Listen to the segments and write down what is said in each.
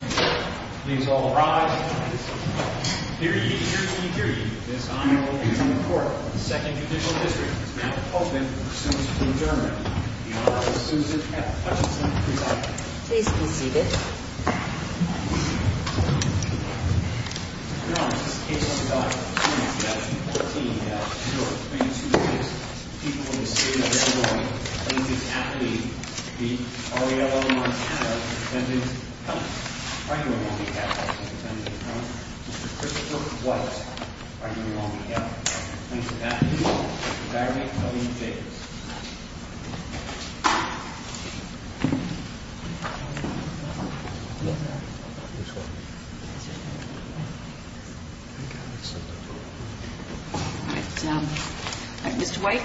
Please all rise. Dear ye, dear ye, dear ye, This Honorable President of the Court of the Second Judicial District is now open for pursuance of adjournment. The Honorable Susan F. Hutchinson, presiding. Please be seated. Your Honor, this case on file, Plaintiff, 14-F, short, 22 years, people in the state of Illinois, plaintiff's attorney, the R. E. L. M. Montano, defendant's counsel, R. E. L. Montano, defendant's counsel, Mr. Christopher White, R. E. L. Montano, plaintiff's attorney, Mr. Barry W. Jacobs. All right. Mr. White.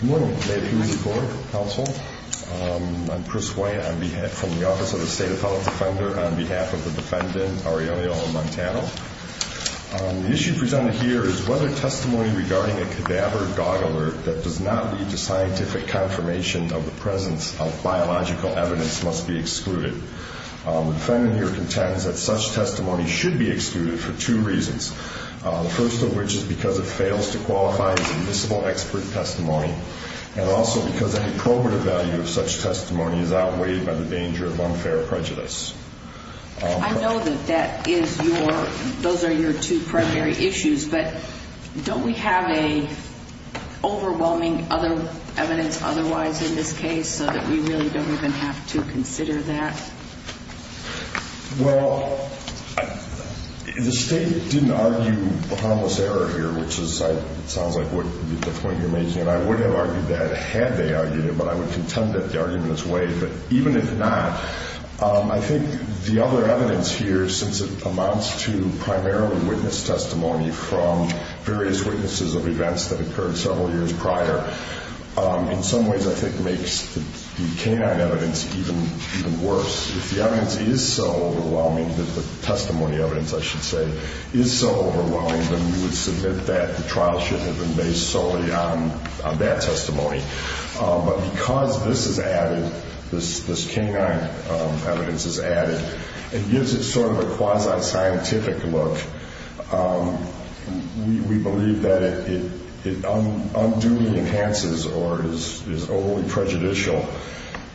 Good morning, I'm Chris White from the Office of the State of Health Defender on behalf of the defendant, R. E. L. Montano. The issue presented here is whether testimony regarding a cadaver dog alert that does not lead to scientific confirmation of the presence of biological evidence must be excluded. The defendant here contends that such testimony should be excluded for two reasons. The first of which is because it fails to qualify as admissible expert testimony and also because any probative value of such testimony is outweighed by the danger of unfair prejudice. I know that that is your, those are your two primary issues, but don't we have a overwhelming other evidence otherwise in this case so that we really don't even have to consider that? Well, the State didn't argue a harmless error here, which sounds like the point you're making, and I would have argued that had they argued it, but I would contend that the argument is weighed, but even if not, I think the other evidence here, since it amounts to primarily witness testimony from various witnesses of events that occurred several years prior, in some ways I think makes the canine evidence even worse. If the evidence is so overwhelming, the testimony evidence I should say, is so overwhelming, then we would submit that the trial should have been based solely on that testimony. But because this is added, this canine evidence is added, it gives it sort of a quasi-scientific look. We believe that it unduly enhances, or is overly prejudicial,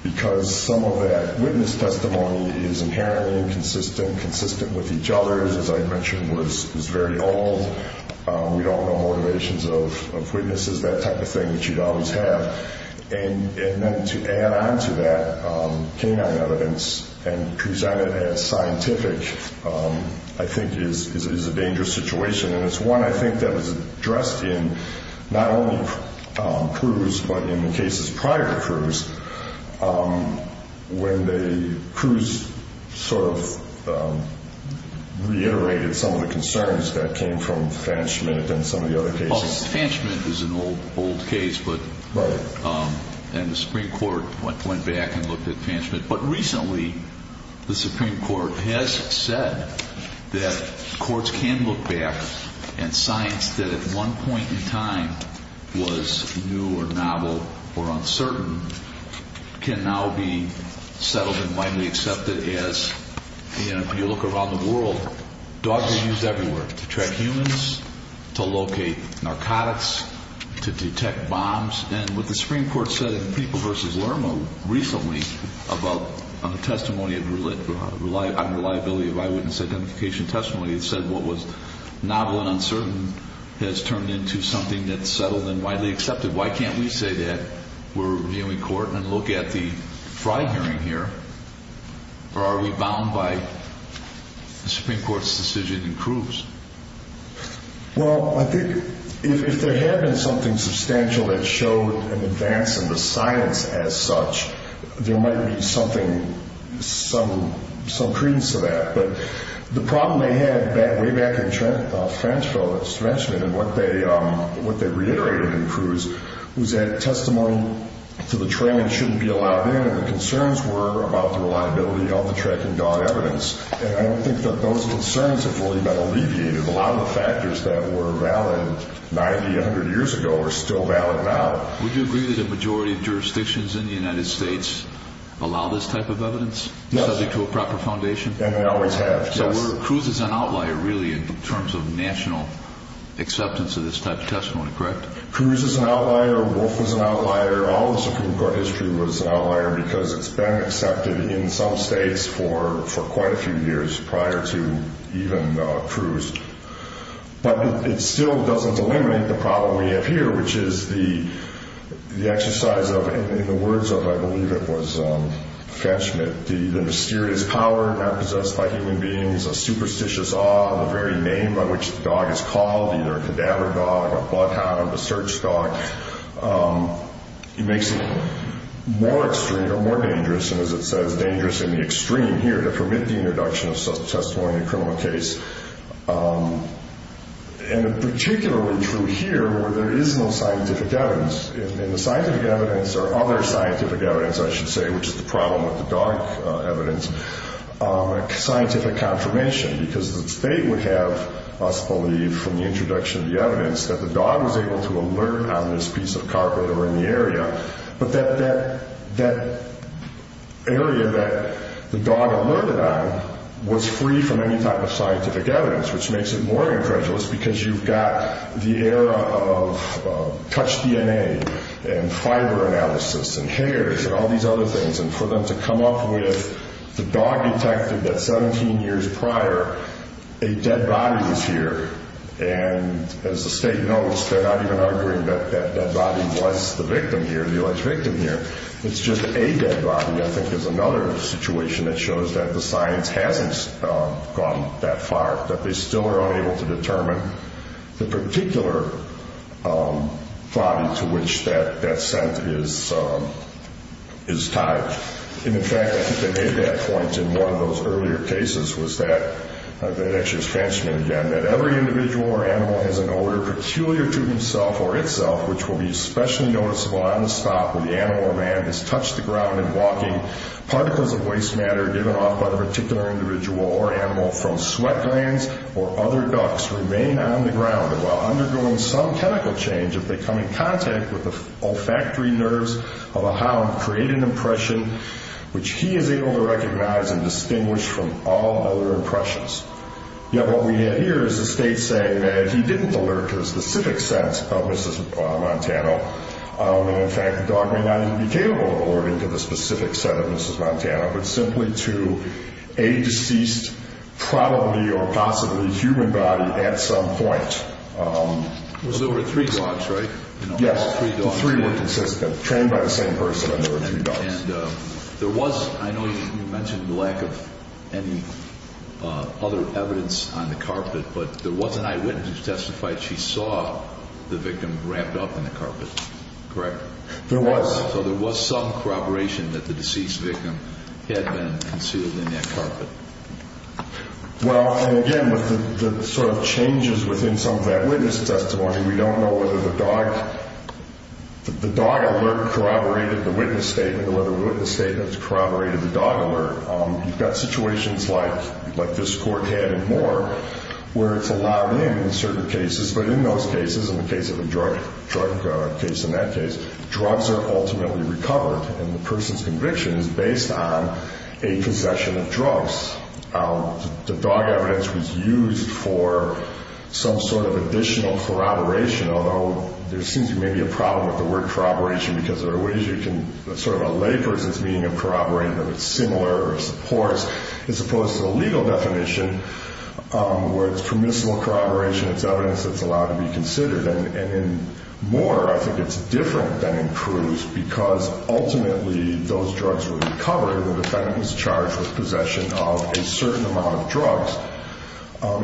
because some of that witness testimony is inherently inconsistent, consistent with each other, as I mentioned was very old. We don't know motivations of witnesses, that type of thing that you'd always have. And then to add on to that canine evidence and present it as scientific, I think is a dangerous situation. And it's one I think that was addressed in not only Cruz, but in the cases prior to Cruz, when Cruz sort of reiterated some of the concerns that came from Fanchment and some of the other cases. Fanchment is an old case, and the Supreme Court went back and looked at Fanchment. But recently the Supreme Court has said that courts can look back and science that at one point in time was new or novel or uncertain can now be settled and widely accepted as, if you look around the world, dogs are used everywhere to track humans, to locate narcotics, to detect bombs. And what the Supreme Court said in People v. Lerma recently on the testimony of unreliability of eyewitness identification testimony said what was novel and uncertain has turned into something that's settled and widely accepted. Why can't we say that we're reviewing court and look at the Fry hearing here? Or are we bound by the Supreme Court's decision in Cruz? Well, I think if there had been something substantial that showed an advance in the science as such, there might be some credence to that. But the problem they had way back in Fanchment and what they reiterated in Cruz was that testimony to the trailing shouldn't be allowed in, and the concerns were about the reliability of the tracking dog evidence. And I don't think that those concerns have fully been alleviated. A lot of the factors that were valid 90, 100 years ago are still valid now. Would you agree that the majority of jurisdictions in the United States allow this type of evidence? Yes. Subject to a proper foundation? And they always have, yes. So Cruz is an outlier, really, in terms of national acceptance of this type of testimony, correct? Cruz is an outlier. Wolf was an outlier. All of the Supreme Court history was an outlier because it's been accepted in some states for quite a few years prior to even Cruz. But it still doesn't eliminate the problem we have here, which is the exercise of, in the words of, I believe it was Fanchment, the mysterious power not possessed by human beings, a superstitious awe of the very name by which the dog is called, either a cadaver dog, a bloodhound, a search dog. It makes it more extreme or more dangerous, and as it says, dangerous in the extreme here to permit the introduction of such a testimony in a criminal case. And particularly true here where there is no scientific evidence. And the scientific evidence or other scientific evidence, I should say, which is the problem with the dog evidence, a scientific confirmation because the state would have us believe from the introduction of the evidence that the dog was able to alert on this piece of carpet or in the area, but that area that the dog alerted on was free from any type of scientific evidence, which makes it more incredulous because you've got the era of touch DNA and fiber analysis and hairs and all these other things. And for them to come up with the dog detected at 17 years prior, a dead body was here. And as the state knows, they're not even arguing that that body was the victim here, the alleged victim here. It's just a dead body, I think, is another situation that shows that the science hasn't gone that far, that they still are unable to determine the particular body to which that scent is tied. And, in fact, I think they made that point in one of those earlier cases was that every individual or animal has an odor peculiar to himself or itself, which will be especially noticeable on the spot where the animal or man has touched the ground and walking. Particles of waste matter given off by a particular individual or animal from sweat glands or other ducts remain on the ground. And while undergoing some chemical change, if they come in contact with the olfactory nerves of a hound, create an impression which he is able to recognize and distinguish from all other impressions. Yet what we have here is the state saying that he didn't alert to a specific scent of Mrs. Montano. And, in fact, the dog may not even be capable of alerting to the specific scent of Mrs. Montano, but simply to a deceased probably or possibly human body at some point. It was over three dogs, right? Yes. All three dogs. The three were consistent, trained by the same person and there were three dogs. And there was, I know you mentioned the lack of any other evidence on the carpet, but there was an eyewitness who testified she saw the victim wrapped up in the carpet, correct? There was. So there was some corroboration that the deceased victim had been concealed in that carpet. Well, and again, with the sort of changes within some of that witness testimony, we don't know whether the dog alert corroborated the witness statement or whether the witness statement corroborated the dog alert. You've got situations like this court had and more where it's allowed in in certain cases, but in those cases, in the case of a drug case in that case, drugs are ultimately recovered and the person's conviction is based on a concession of drugs. The dog evidence was used for some sort of additional corroboration, although there seems to be maybe a problem with the word corroboration because there are ways you can sort of allay versus meaning of corroborating that it's similar or supports, as opposed to the legal definition where it's permissible corroboration, it's evidence that's allowed to be considered. And in Moore, I think it's different than in Cruz because ultimately those drugs were recovered and the defendant was charged with possession of a certain amount of drugs,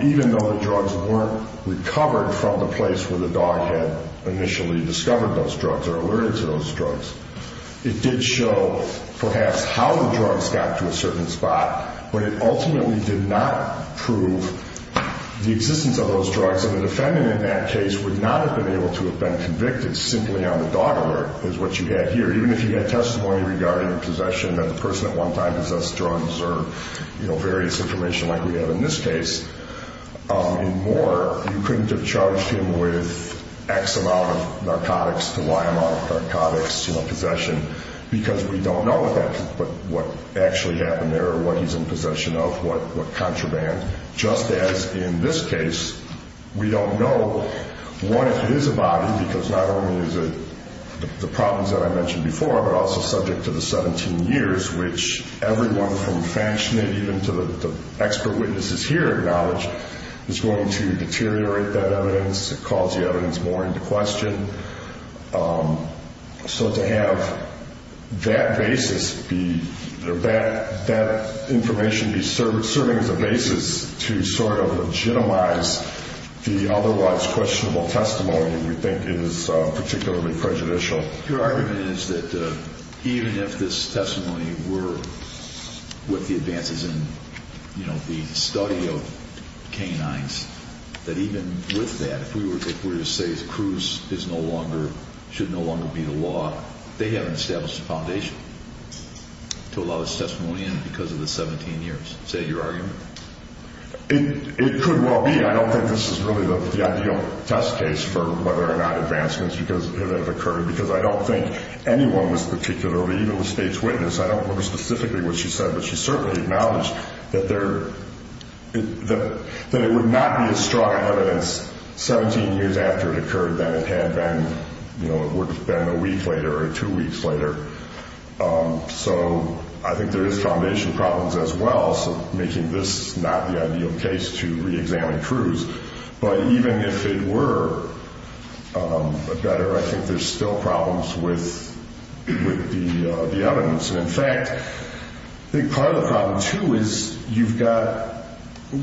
even though the drugs weren't recovered from the place where the dog had initially discovered those drugs or alerted to those drugs. It did show perhaps how the drugs got to a certain spot, but it ultimately did not prove the existence of those drugs and the defendant in that case would not have been able to have been convicted simply on the dog alert, is what you had here. Even if you had testimony regarding possession that the person at one time possessed drugs or, you know, various information like we have in this case, in Moore, you couldn't have charged him with X amount of narcotics to Y amount of narcotics, you know, possession, because we don't know what actually happened there or what he's in possession of, what contraband. Just as in this case, we don't know what it is about him because not only is it the problems that I mentioned before, but also subject to the 17 years, which everyone from Faschner, even to the expert witnesses here acknowledge, is going to deteriorate that evidence, cause the evidence more into question. So to have that basis, that information be serving as a basis to sort of legitimize the otherwise questionable testimony, we think is particularly prejudicial. Your argument is that even if this testimony were with the advances in, you know, the study of canines, that even with that, if we were to say Cruz is no longer, should no longer be the law, they haven't established a foundation to allow this testimony in because of the 17 years. Is that your argument? It could well be. I don't think this is really the ideal test case for whether or not advancements have occurred because I don't think anyone was particularly, even the state's witness, I don't remember specifically what she said, but she certainly acknowledged that it would not be as strong an evidence 17 years after it occurred than it had been a week later or two weeks later. So I think there is foundation problems as well, so making this not the ideal case to reexamine Cruz. But even if it were better, I think there's still problems with the evidence. And, in fact, I think part of the problem too is you've got,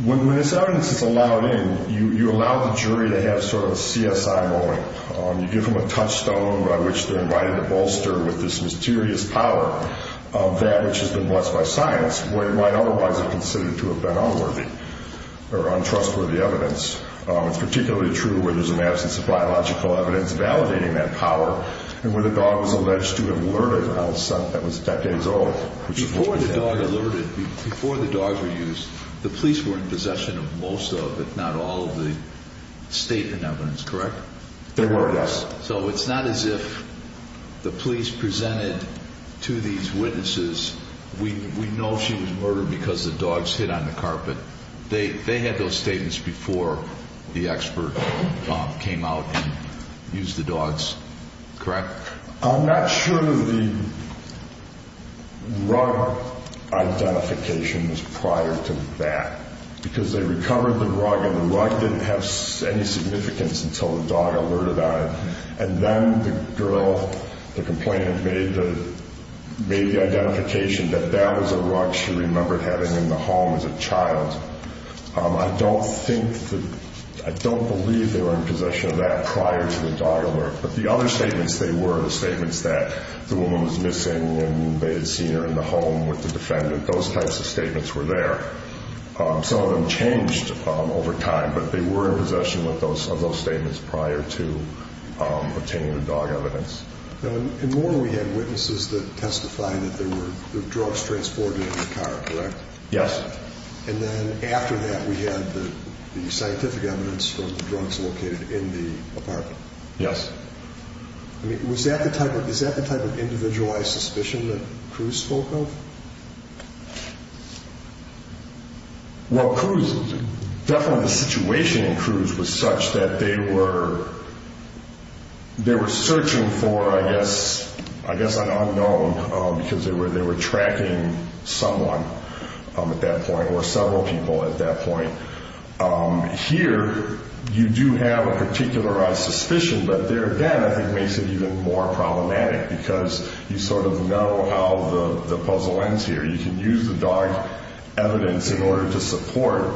when this evidence is allowed in, you allow the jury to have sort of a CSI ruling. You give them a touchstone by which they're invited to bolster with this mysterious power of that which has been blessed by science, where it might otherwise have considered to have been unworthy or untrustworthy evidence. It's particularly true where there's an absence of biological evidence validating that power and where the dog was alleged to have alerted a house that was decades old. Before the dog alerted, before the dog was used, the police were in possession of most of, if not all, of the statement evidence, correct? They were, yes. So it's not as if the police presented to these witnesses, we know she was murdered because the dogs hit on the carpet. They had those statements before the expert came out and used the dogs, correct? I'm not sure the rug identification was prior to that because they recovered the rug and the rug didn't have any significance until the dog alerted on it. And then the girl, the complainant, made the identification that that was a rug she remembered having in the home as a child. I don't think, I don't believe they were in possession of that prior to the dog alert. But the other statements they were, the statements that the woman was missing and they had seen her in the home with the defendant, those types of statements were there. Some of them changed over time, but they were in possession of those statements prior to obtaining the dog evidence. In one we had witnesses that testified that there were drugs transported in the car, correct? Yes. And then after that we had the scientific evidence from the drugs located in the apartment. Yes. I mean, is that the type of individualized suspicion that Cruz spoke of? Well, Cruz, definitely the situation in Cruz was such that they were searching for, I guess, I guess an unknown because they were tracking someone at that point or several people at that point. Here you do have a particularized suspicion, but there again I think makes it even more problematic because you sort of know how the puzzle ends here. You can use the dog evidence in order to support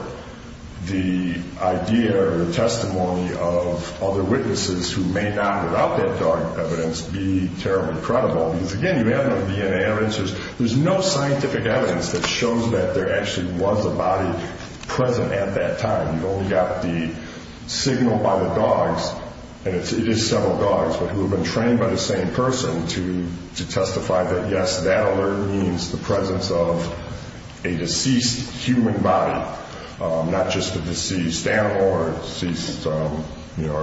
the idea or the testimony of other witnesses who may not, without that dog evidence, be terribly credible. Because, again, you have the DNA evidence. There's no scientific evidence that shows that there actually was a body present at that time. You've only got the signal by the dogs, and it is several dogs, but who have been trained by the same person to testify that, yes, that alert means the presence of a deceased human body, not just a deceased animal or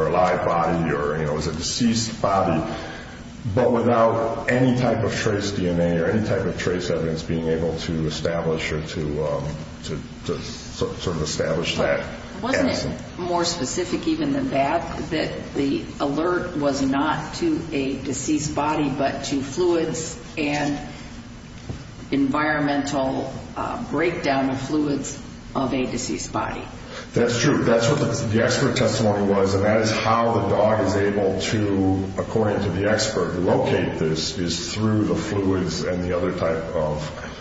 a live body or a deceased body, but without any type of trace DNA or any type of trace evidence being able to establish or to sort of establish that evidence. Wasn't it more specific even than that that the alert was not to a deceased body but to fluids and environmental breakdown of fluids of a deceased body? That's true. That's what the expert testimony was, and that is how the dog is able to, according to the expert, locate this is through the fluids and the other type of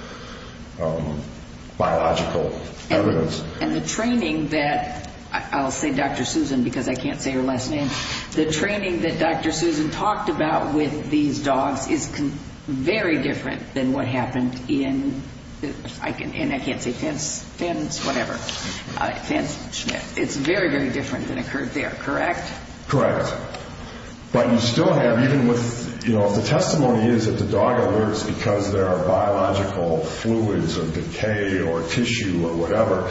biological evidence. And the training that, I'll say Dr. Susan because I can't say her last name, the training that Dr. Susan talked about with these dogs is very different than what happened in, and I can't say Fence, Fence, whatever, Fence, Schmitt. It's very, very different than occurred there, correct? Correct. But you still have, even with, you know, if the testimony is that the dog alerts because there are biological fluids or decay or tissue or whatever,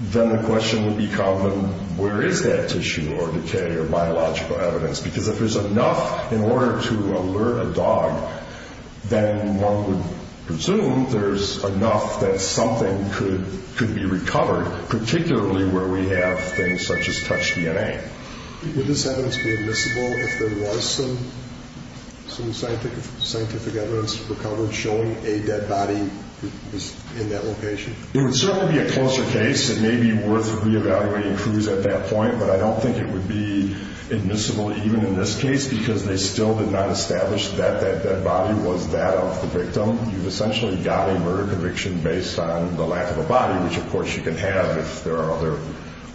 then the question would become then where is that tissue or decay or biological evidence? Because if there's enough in order to alert a dog, then one would presume there's enough that something could be recovered, particularly where we have things such as touch DNA. Would this evidence be admissible if there was some scientific evidence recovered showing a dead body in that location? It would certainly be a closer case. It may be worth reevaluating clues at that point, but I don't think it would be admissible even in this case because they still did not establish that that dead body was that of the victim. You've essentially got a murder conviction based on the lack of a body, which, of course, you can have if there are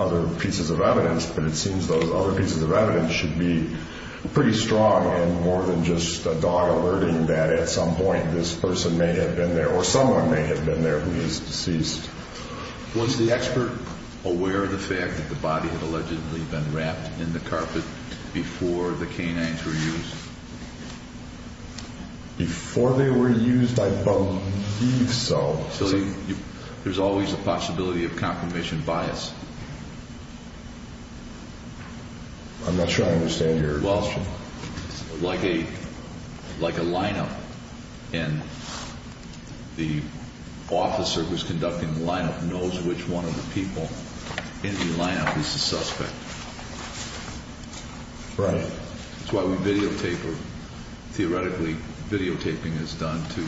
other pieces of evidence, but it seems those other pieces of evidence should be pretty strong and more than just a dog alerting that at some point this person may have been there or someone may have been there who is deceased. Was the expert aware of the fact that the body had allegedly been wrapped in the carpet before the canines were used? Before they were used, I believe so. There's always a possibility of confirmation bias. I'm not sure I understand your question. Like a lineup, and the officer who's conducting the lineup knows which one of the people in the lineup is the suspect. Right. That's why we videotape, or theoretically videotaping is done to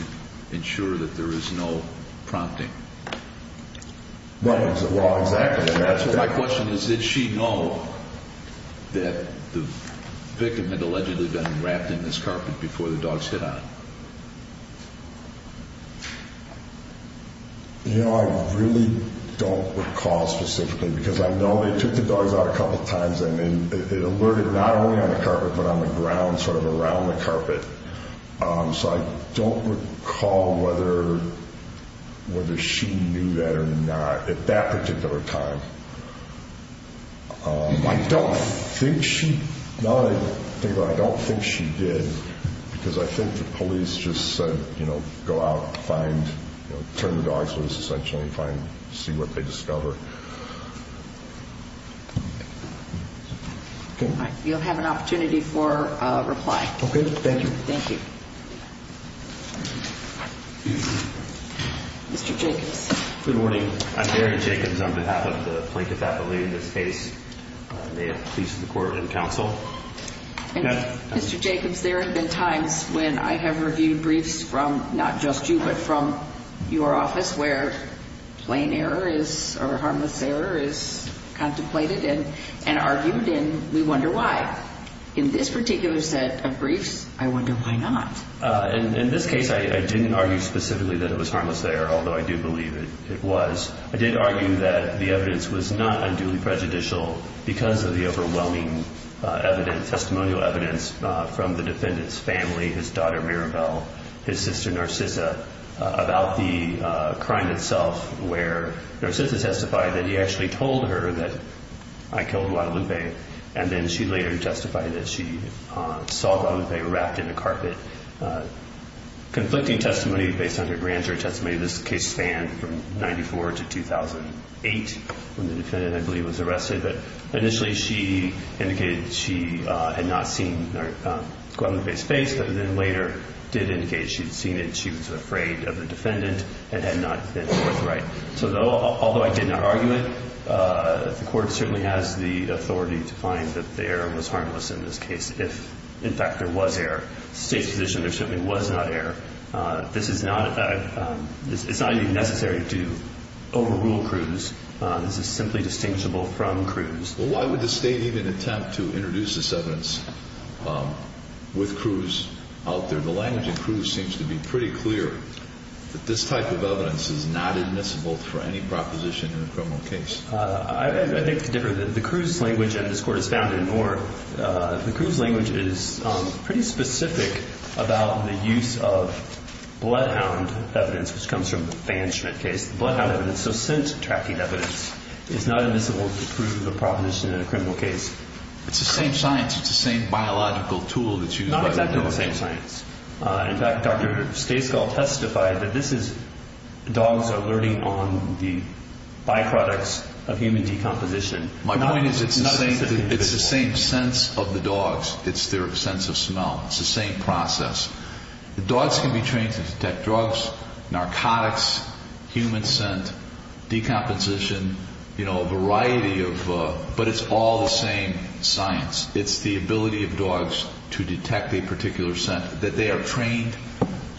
ensure that there is no prompting. Right. Well, exactly. My question is did she know that the victim had allegedly been wrapped in this carpet before the dogs hit on it? You know, I really don't recall specifically because I know they took the dogs out a couple times and then it alerted not only on the carpet but on the ground sort of around the carpet. So I don't recall whether she knew that or not at that particular time. I don't think she did because I think the police just said, you know, go out and find, turn the dogs loose essentially and see what they discover. You'll have an opportunity for a reply. Okay. Thank you. Thank you. Mr. Jacobs. Good morning. I'm Harry Jacobs. I'm behalf of the Plinkett family in this case. May it please the court and counsel. Mr. Jacobs, there have been times when I have reviewed briefs from not just you but from your office where plain error or harmless error is contemplated and argued and we wonder why. In this particular set of briefs, I wonder why not. In this case, I didn't argue specifically that it was harmless error, although I do believe it was. I did argue that the evidence was not unduly prejudicial because of the overwhelming testimonial evidence from the defendant's family, his daughter Mirabel, his sister Narcissa, about the crime itself where Narcissa testified that he actually told her that I killed Guadalupe and then she later testified that she saw Guadalupe wrapped in a carpet. Conflicting testimony based on her grand jury testimony, this case spanned from 1994 to 2008 when the defendant, I believe, was arrested, but initially she indicated she had not seen Guadalupe's face but then later did indicate she'd seen it, she was afraid of the defendant, and had not been forthright. So although I did not argue it, the court certainly has the authority to find that the error was harmless in this case if, in fact, there was error. The State's position there certainly was not error. This is not even necessary to overrule Cruz. This is simply distinguishable from Cruz. Well, why would the State even attempt to introduce this evidence with Cruz out there? The language in Cruz seems to be pretty clear that this type of evidence is not admissible for any proposition in a criminal case. I think it's different. The Cruz language, and this court has found it in Moore, the Cruz language is pretty specific about the use of bloodhound evidence, which comes from the Van Schmidt case. Bloodhound evidence, so scent-tracking evidence, is not admissible to prove a proposition in a criminal case. It's the same science. It's the same biological tool that's used by the dogs. Not exactly the same science. In fact, Dr. Stayscall testified that dogs are learning on the byproducts of human decomposition. My point is it's the same sense of the dogs. It's their sense of smell. It's the same process. The dogs can be trained to detect drugs, narcotics, human scent, decomposition, a variety of, but it's all the same science. It's the ability of dogs to detect a particular scent that they are trained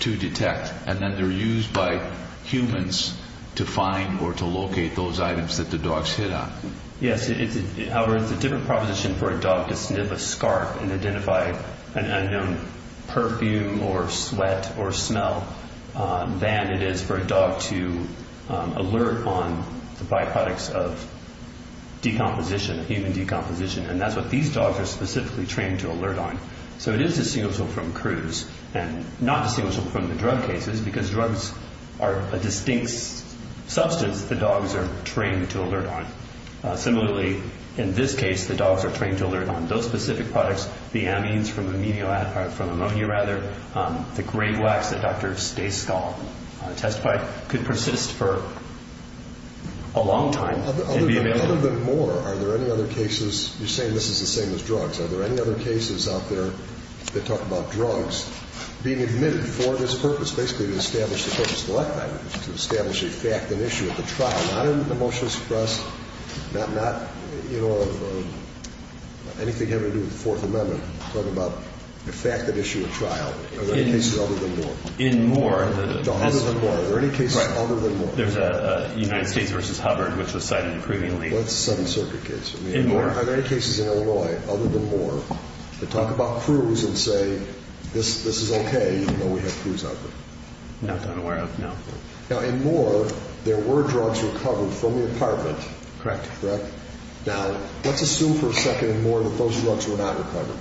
to detect, and then they're used by humans to find or to locate those items that the dogs hit on. Yes. However, it's a different proposition for a dog to sniff a scarf and identify an unknown perfume or sweat or smell than it is for a dog to alert on the byproducts of decomposition, human decomposition. And that's what these dogs are specifically trained to alert on. So it is distinguishable from CRUISE and not distinguishable from the drug cases because drugs are a distinct substance that the dogs are trained to alert on. Similarly, in this case, the dogs are trained to alert on those specific products, the amines from ammonia, the gray wax that Dr. Stayscall testified, could persist for a long time and be available. In other than Moore, are there any other cases? You're saying this is the same as drugs. Are there any other cases out there that talk about drugs being admitted for this purpose, basically to establish the purpose of the lifetime, to establish a fact and issue of the trial, not in the motion expressed, not, you know, anything having to do with the Fourth Amendment, talking about the fact and issue of trial. Are there any cases other than Moore? In Moore, the- Other than Moore. Are there any cases other than Moore? There's a United States v. Hubbard, which was cited previously. That's a Seventh Circuit case. In Moore. Are there any cases in Illinois other than Moore that talk about CRUISE and say, this is okay even though we have CRUISE out there? Not that I'm aware of, no. Now, in Moore, there were drugs recovered from the apartment. Correct. Correct. Now, let's assume for a second in Moore that those drugs were not recovered.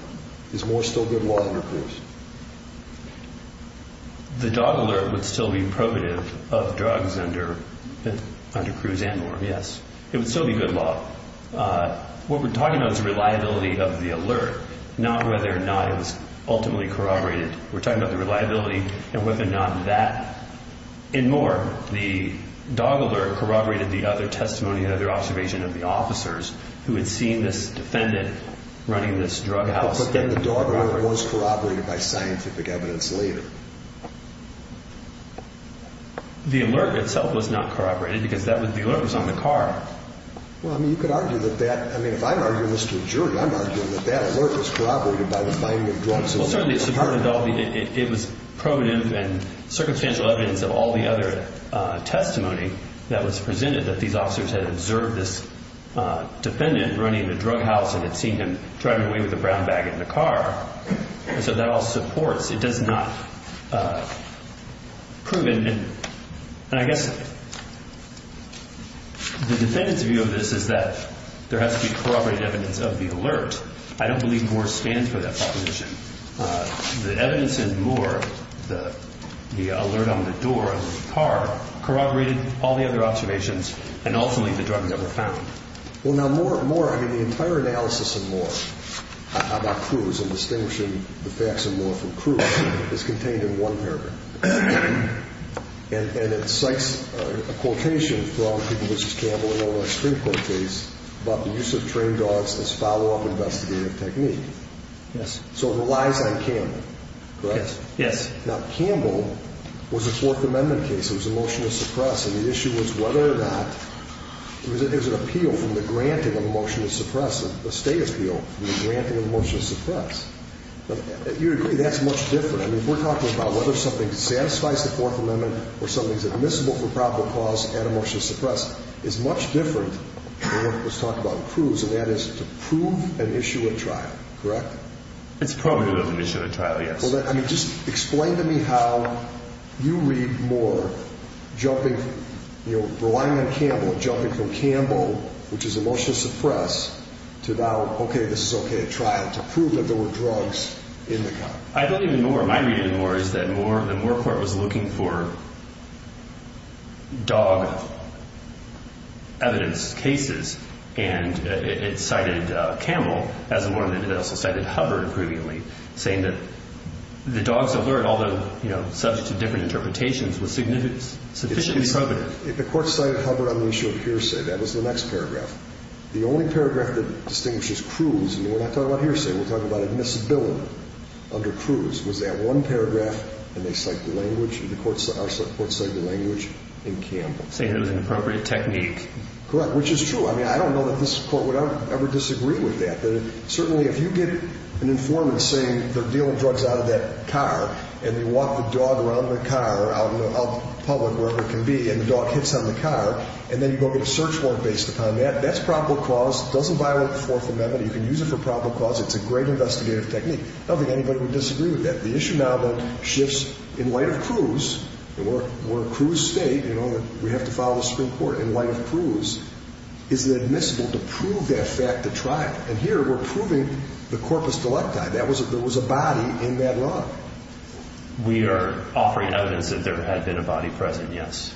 Is Moore still good law under CRUISE? The dog alert would still be probative of drugs under CRUISE and Moore, yes. It would still be good law. What we're talking about is the reliability of the alert, not whether or not it was ultimately corroborated. We're talking about the reliability and whether or not that- In Moore, the dog alert corroborated the other testimony, the other observation of the officers who had seen this defendant running this drug house. In Moore, the dog alert was corroborated by scientific evidence later. The alert itself was not corroborated because the alert was on the car. Well, I mean, you could argue that that- I mean, if I'm arguing this to a jury, I'm arguing that that alert was corroborated by the finding of drugs in the apartment. Well, certainly, it was provative and circumstantial evidence of all the other testimony that was presented that these officers had observed this defendant running the drug house and had seen him driving away with a brown bag in the car, and so that all supports. It does not prove it. And I guess the defendant's view of this is that there has to be corroborated evidence of the alert. I don't believe Moore stands for that proposition. The evidence in Moore, the alert on the door of the car, corroborated all the other observations and ultimately the drugs that were found. Well, now, Moore, I mean, the entire analysis of Moore, about Cruz and distinguishing the facts of Moore from Cruz, is contained in one paragraph. And it cites a quotation from people such as Campbell, in one of the extreme quotations, about the use of trained dogs as follow-up investigative technique. Yes. So it relies on Campbell, correct? Yes. Now, Campbell was a Fourth Amendment case. It was a motion to suppress, and the issue was whether or not- There's an appeal from the granting of a motion to suppress, a state appeal from the granting of a motion to suppress. You agree that's much different. I mean, if we're talking about whether something satisfies the Fourth Amendment or something's admissible for probable cause and a motion to suppress, it's much different than what was talked about in Cruz, and that is to prove an issue at trial, correct? It's probably an issue at trial, yes. I mean, just explain to me how you read Moore, relying on Campbell, jumping from Campbell, which is a motion to suppress, to now, okay, this is okay at trial, to prove that there were drugs in the car. I believe in Moore. My reading of Moore is that the Moore court was looking for dog evidence cases, and it cited Campbell as one of them. It also cited Hubbard previously, saying that the dog's alert, although subject to different interpretations, was sufficiently probative. The court cited Hubbard on the issue of hearsay. That was the next paragraph. The only paragraph that distinguishes Cruz, and we're not talking about hearsay, we're talking about admissibility under Cruz, was that one paragraph, and they cite the language, and the court cited the language in Campbell. Saying it was an appropriate technique. Correct, which is true. I mean, I don't know that this court would ever disagree with that. Certainly, if you get an informant saying they're dealing drugs out of that car, and they walk the dog around the car, out in public, wherever it can be, and the dog hits on the car, and then you go get a search warrant based upon that, that's probable cause. It doesn't violate the Fourth Amendment. You can use it for probable cause. It's a great investigative technique. I don't think anybody would disagree with that. The issue now, though, shifts in light of Cruz, and we're a Cruz state, you know, we have to follow the Supreme Court. In light of Cruz, is it admissible to prove that fact at trial? And here, we're proving the corpus delicti. There was a body in that law. We are offering evidence that there had been a body present, yes.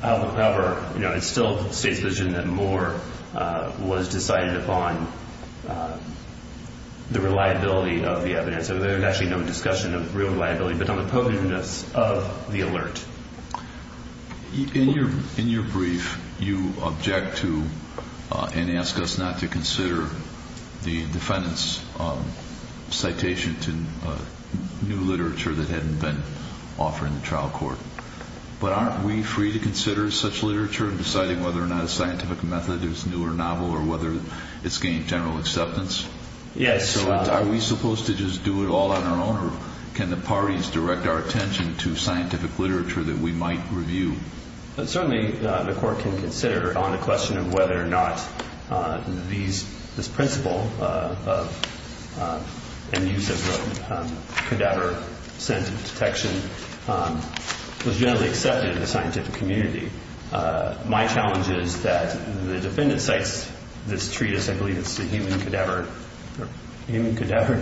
However, you know, it's still the state's position that more was decided upon the reliability of the evidence. There's actually no discussion of real reliability, but on the potentness of the alert. In your brief, you object to and ask us not to consider the defendant's citation to new literature that hadn't been offered in the trial court, but aren't we free to consider such literature in deciding whether or not a scientific method is new or novel or whether it's gained general acceptance? Yes. So are we supposed to just do it all on our own, or can the parties direct our attention to scientific literature that we might review? Certainly, the court can consider on the question of whether or not this principle and use of the cadaver-scented detection was generally accepted in the scientific community. My challenge is that the defendant cites this treatise, I believe it's the Human Cadaver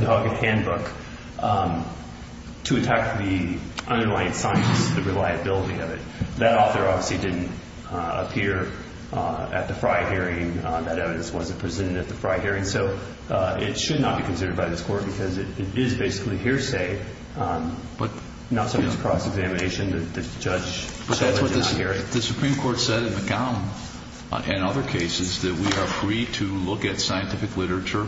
Dog Handbook, to attack the underlying science, the reliability of it. That author obviously didn't appear at the Frey hearing. That evidence wasn't presented at the Frey hearing. So it should not be considered by this court because it is basically hearsay, but not something that's cross-examination that the judge decided to not hear. The Supreme Court said in McGowan and other cases that we are free to look at scientific literature,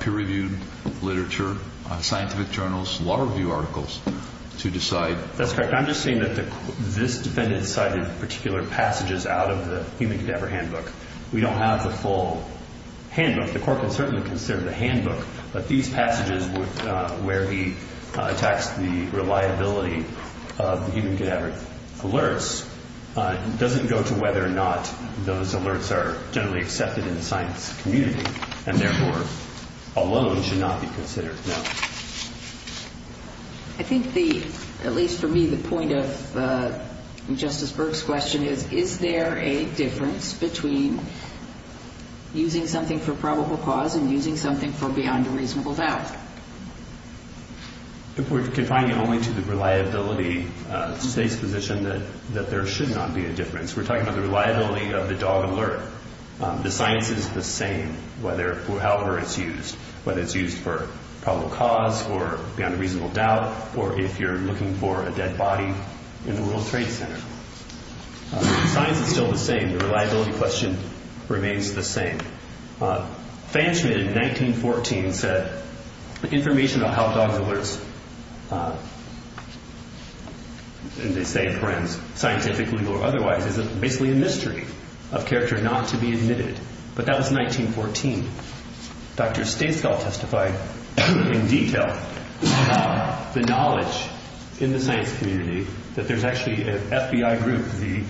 peer-reviewed literature, scientific journals, law review articles to decide. That's correct. I'm just saying that this defendant cited particular passages out of the Human Cadaver Handbook. We don't have the full handbook. The court can certainly consider the handbook, but these passages where he attacks the reliability of the human cadaver alerts doesn't go to whether or not those alerts are generally accepted in the science community and therefore alone should not be considered, no. I think, at least for me, the point of Justice Burke's question is, is there a difference between using something for probable cause and using something for beyond a reasonable doubt? We're confining it only to the reliability state's position that there should not be a difference. We're talking about the reliability of the dog alert. The science is the same, however it's used, whether it's used for probable cause or beyond a reasonable doubt or if you're looking for a dead body in the World Trade Center. The science is still the same. The reliability question remains the same. Fanschmid in 1914 said, information about how dogs alerts, and they say forensic, scientific, legal, or otherwise, is basically a mystery of character not to be admitted. But that was 1914. Dr. Stasekall testified in detail about the knowledge in the science community that there's actually an FBI group, the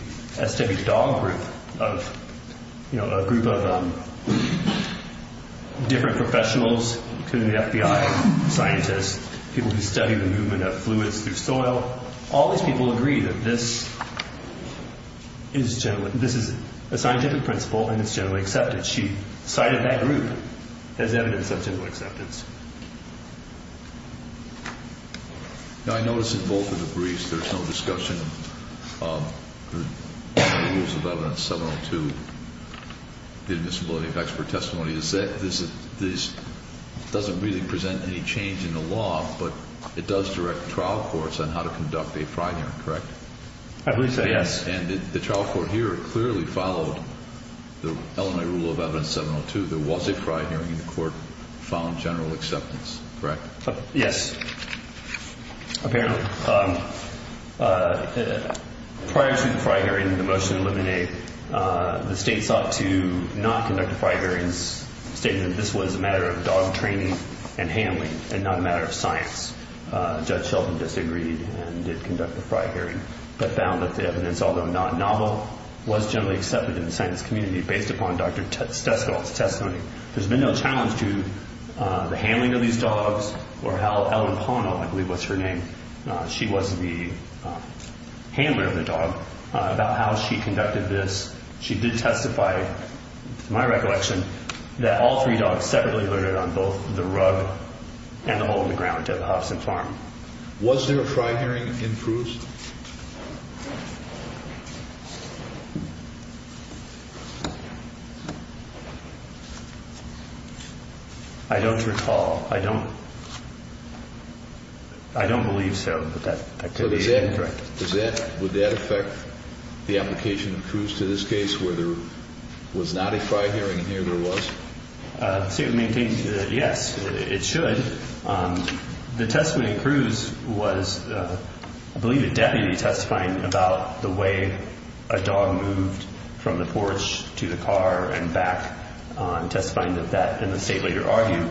SDV dog group, a group of different professionals, including the FBI scientists, people who study the movement of fluids through soil. All these people agree that this is a scientific principle and it's generally accepted. And she cited that group as evidence of general acceptance. Now, I notice in both of the briefs there's no discussion. The use of evidence 702, the admissibility of expert testimony, is that this doesn't really present any change in the law, but it does direct trial courts on how to conduct a trial hearing, correct? I believe so, yes. And the trial court here clearly followed the LMA rule of evidence 702. There was a fried hearing, and the court found general acceptance, correct? Yes, apparently. Prior to the fried hearing, the motion to eliminate, the state sought to not conduct a fried hearing, stating that this was a matter of dog training and handling and not a matter of science. Judge Shelton disagreed and did conduct the fried hearing, but found that the evidence, although not novel, was generally accepted in the science community based upon Dr. Teskel's testimony. There's been no challenge to the handling of these dogs or how Ellen Pono, I believe was her name, she was the handler of the dog, about how she conducted this. She did testify, to my recollection, that all three dogs separately learned it on both the rug and the hole in the ground at the Hobson Farm. Was there a fried hearing in Cruz? I don't recall. I don't believe so, but that could be incorrect. Would that affect the application of Cruz to this case where there was not a fried hearing and here there was? The state maintains that, yes, it should. The testimony in Cruz was, I believe, a deputy testifying about the way a dog moved from the porch to the car and back, testifying that that, and the state later argued,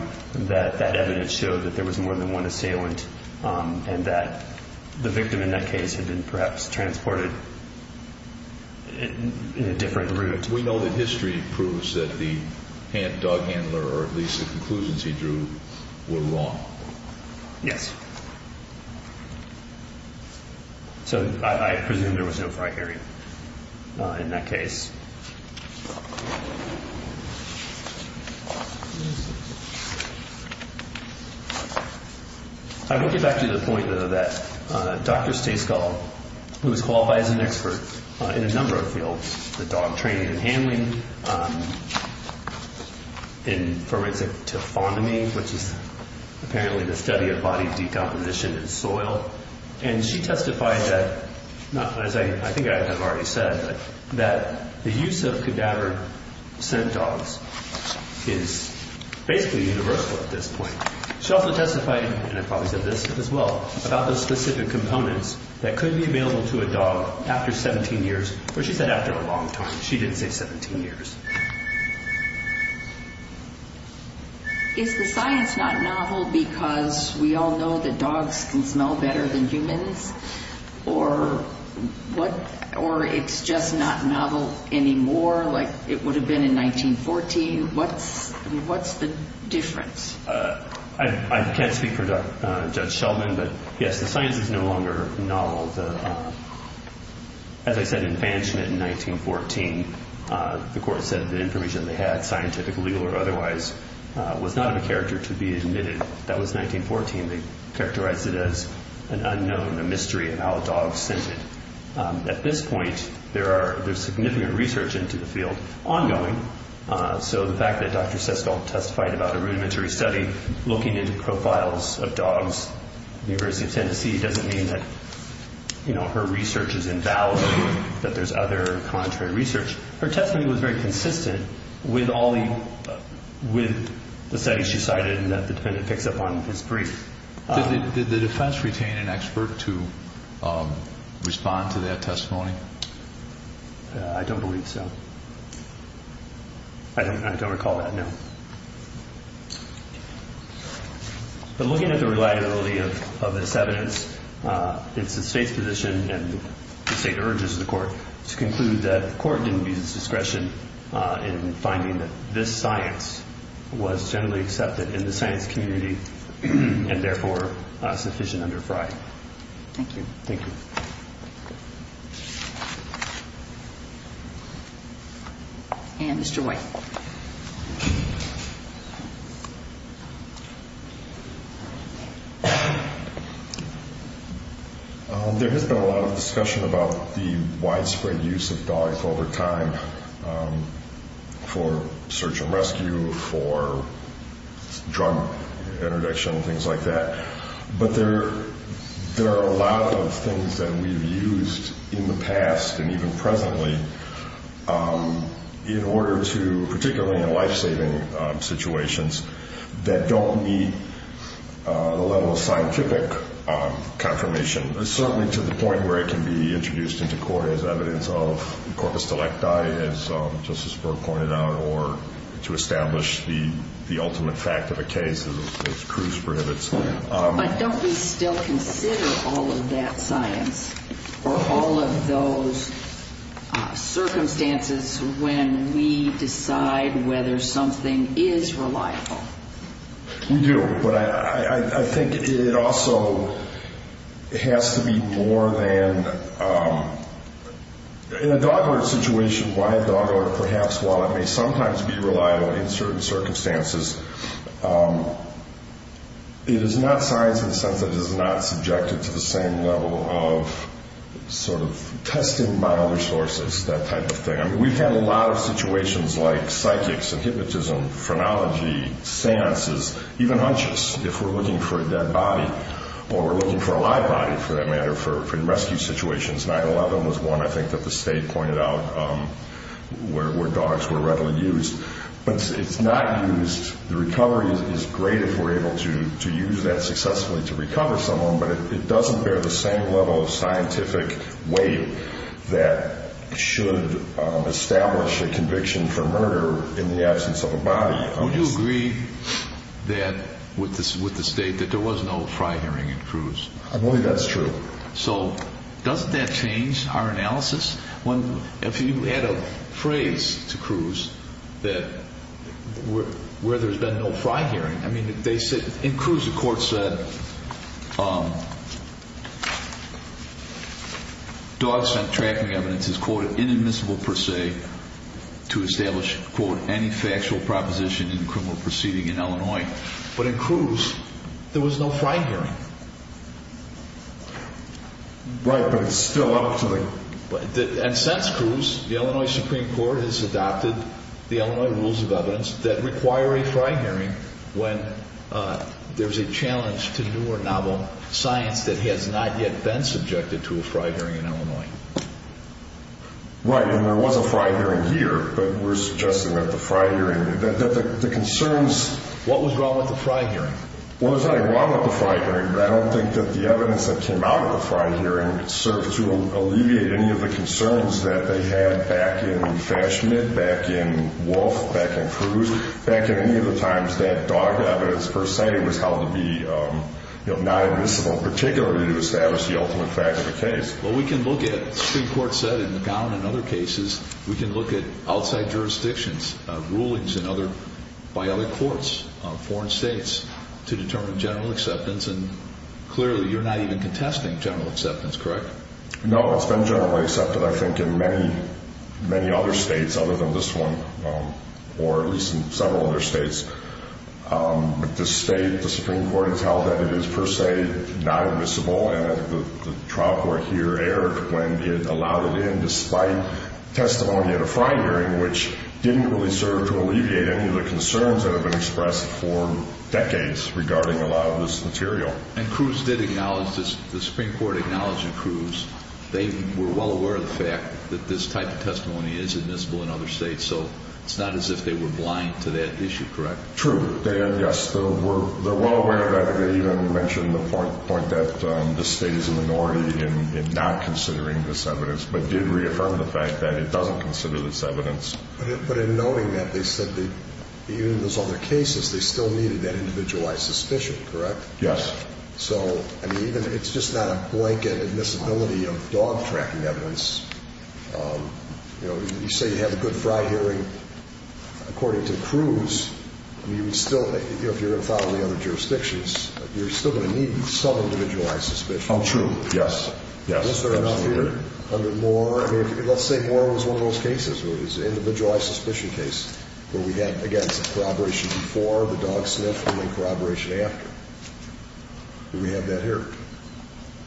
that that evidence showed that there was more than one assailant and that the victim in that case had been perhaps transported in a different route. We know that history proves that the dog handler, or at least the conclusions he drew, were wrong. Yes. So I presume there was no fried hearing in that case. I will get back to the point, though, that Dr. Stasekal, who was qualified as an expert in a number of fields, the dog training and handling, in forensic taphonomy, which is apparently the study of body decomposition in soil, and she testified that, as I think I have already said, that the use of cadaver scent dogs is basically universal at this point. She also testified, and I probably said this as well, about the specific components that could be available to a dog after 17 years, or she said after a long time. She didn't say 17 years. Is the science not novel because we all know that dogs can smell better than humans, or it's just not novel anymore like it would have been in 1914? What's the difference? I can't speak for Judge Sheldon, but, yes, the science is no longer novel. As I said, infatuation in 1914, the court said the information they had, scientific, legal, or otherwise, was not of a character to be admitted. That was 1914. They characterized it as an unknown, a mystery of how a dog scented. At this point, there's significant research into the field ongoing, so the fact that Dr. Stasekal testified about a rudimentary study looking into profiles of dogs at the University of Tennessee doesn't mean that her research is invalid, that there's other contrary research. Her testimony was very consistent with all the studies she cited and that the defendant picks up on in his brief. Did the defense retain an expert to respond to that testimony? I don't believe so. I don't recall that, no. But looking at the reliability of this evidence, it's the state's position and the state urges the court to conclude that the court didn't use its discretion in finding that this science was generally accepted in the science community and, therefore, sufficient under Frye. Thank you. Thank you. And Mr. White. Thank you. There has been a lot of discussion about the widespread use of dogs over time for search and rescue, for drug interdiction, things like that, but there are a lot of things that we've used in the past and even presently in order to, particularly in life-saving situations, that don't meet the level of scientific confirmation, certainly to the point where it can be introduced into court as evidence of corpus delecti, as Justice Brewer pointed out, or to establish the ultimate fact of the case as Cruz prohibits. But don't we still consider all of that science or all of those circumstances when we decide whether something is reliable? We do. But I think it also has to be more than in a dog order situation, why a dog order, perhaps while it may sometimes be reliable in certain circumstances, it is not science in the sense that it is not subjected to the same level of sort of testing by other sources, that type of thing. I mean, we've had a lot of situations like psychics and hypnotism, phrenology, seances, even hunches, if we're looking for a dead body or we're looking for a live body, for that matter, for rescue situations. 9-11 was one, I think, that the state pointed out where dogs were readily used. But it's not used. The recovery is great if we're able to use that successfully to recover someone, but it doesn't bear the same level of scientific weight that should establish a conviction for murder in the absence of a body. Would you agree with the state that there was no fry hearing in Cruz? I believe that's true. So doesn't that change our analysis? If you add a phrase to Cruz where there's been no fry hearing, I mean, in Cruz the court said dogs sent tracking evidence is, quote, inadmissible per se to establish, quote, any factual proposition in a criminal proceeding in Illinois. But in Cruz there was no fry hearing. Right, but it's still up to the... And since Cruz, the Illinois Supreme Court has adopted the Illinois Rules of Evidence that require a fry hearing when there's a challenge to new or novel science that has not yet been subjected to a fry hearing in Illinois. Right, and there was a fry hearing here, but we're suggesting that the fry hearing, that the concerns... What was wrong with the fry hearing? Well, there's nothing wrong with the fry hearing, but I don't think that the evidence that came out of the fry hearing served to alleviate any of the concerns that they had back in Fash Smith, back in Wolfe, back in Cruz, back at any of the times that dog evidence per se was held to be inadmissible, particularly to establish the ultimate fact of the case. Well, we can look at, the Supreme Court said in McGowan and other cases, we can look at outside jurisdictions, rulings by other courts, foreign states, to determine general acceptance, and clearly you're not even contesting general acceptance, correct? No, it's been generally accepted, I think, in many other states other than this one, or at least in several other states. But this state, the Supreme Court has held that it is per se not admissible, and the trial court here erred when it allowed it in despite testimony at a fry hearing, which didn't really serve to alleviate any of the concerns that have been expressed for decades regarding a lot of this material. And Cruz did acknowledge this. The Supreme Court acknowledged in Cruz, they were well aware of the fact that this type of testimony is admissible in other states, so it's not as if they were blind to that issue, correct? True. Yes, they're well aware of that. They even mentioned the point that the state is a minority in not considering this evidence, but did reaffirm the fact that it doesn't consider this evidence. But in noting that, they said that even in those other cases, they still needed that individualized suspicion, correct? Yes. So, I mean, even if it's just not a blanket admissibility of dog-tracking evidence, you know, you say you have a good fry hearing, according to Cruz, you would still, you know, if you're going to follow the other jurisdictions, you're still going to need some individualized suspicion. True, yes. Is there enough here under Moore? I mean, let's say Moore was one of those cases where it was an individualized suspicion case where we had, again, some corroboration before, the dog sniffed, and then corroboration after. Do we have that here?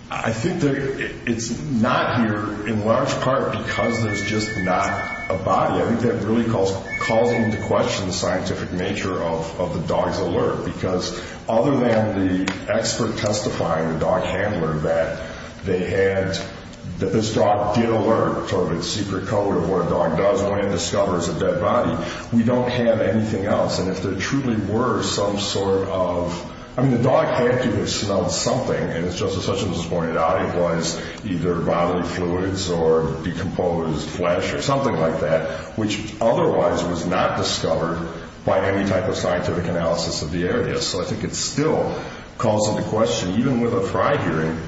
I think it's not here in large part because there's just not a body. I think that really calls into question the scientific nature of the dog's alert because other than the expert testifying, the dog handler, that they had, that this dog did alert, sort of its secret code of what a dog does when it discovers a dead body, we don't have anything else. And if there truly were some sort of, I mean, the dog had to have smelled something, and as Justice Hutchins pointed out, it was either bodily fluids or decomposed flesh or something like that, which otherwise was not discovered by any type of scientific analysis of the area. So I think it still calls into question, even with a prior hearing,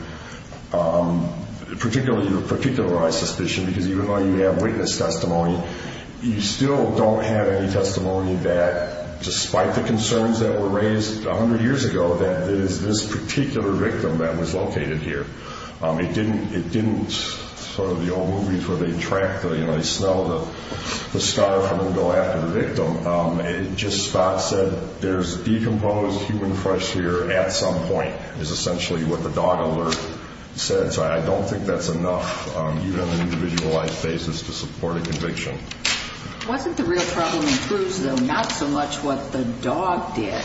particularly your particularized suspicion, because even though you have witness testimony, you still don't have any testimony that, despite the concerns that were raised 100 years ago, that it is this particular victim that was located here. It didn't, sort of the old movies where they track the, you know, they smell the scarf and then go after the victim. It just said, there's decomposed human flesh here at some point, is essentially what the dog alert said. So I don't think that's enough, even on an individualized basis, to support a conviction. Wasn't the real problem in Cruz, though, not so much what the dog did,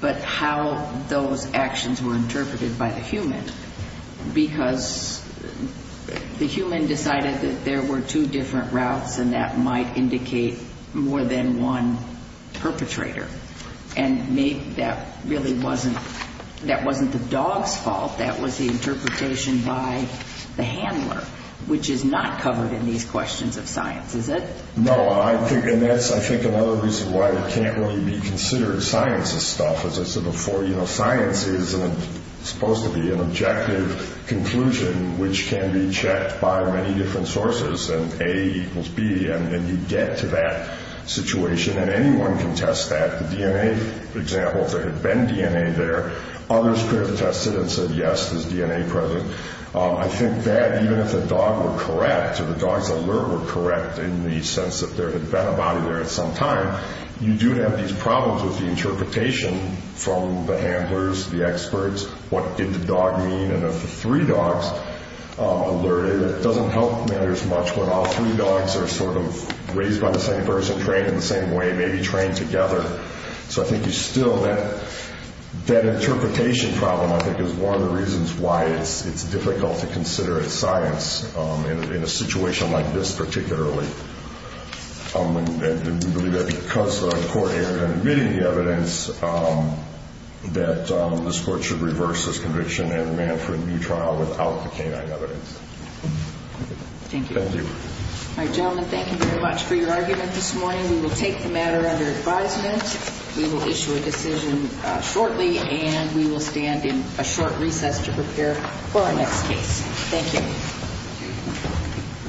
but how those actions were interpreted by the human, because the human decided that there were two different routes and that might indicate more than one perpetrator. And maybe that really wasn't the dog's fault. That was the interpretation by the handler, which is not covered in these questions of science, is it? No, and that's, I think, another reason why it can't really be considered science's stuff. As I said before, you know, science is supposed to be an objective conclusion, which can be checked by many different sources, and A equals B, and you get to that situation. And anyone can test that. The DNA, for example, if there had been DNA there, others could have tested and said, yes, there's DNA present. I think that even if the dog were correct, or the dog's alert were correct, in the sense that there had been a body there at some time, you do have these problems with the interpretation from the handlers, the experts. What did the dog mean? And if the three dogs alerted, it doesn't help matters much when all three dogs are sort of raised by the same person, trained in the same way, maybe trained together. So I think there's still that interpretation problem, I think, is one of the reasons why it's difficult to consider it science in a situation like this particularly. And we believe that because the court erred on admitting the evidence, that this court should reverse this conviction and run for a new trial without the canine evidence. Thank you. Thank you. All right, gentlemen, thank you very much for your argument this morning. We will take the matter under advisement. We will issue a decision shortly, and we will stand in a short recess to prepare for our next case. Thank you.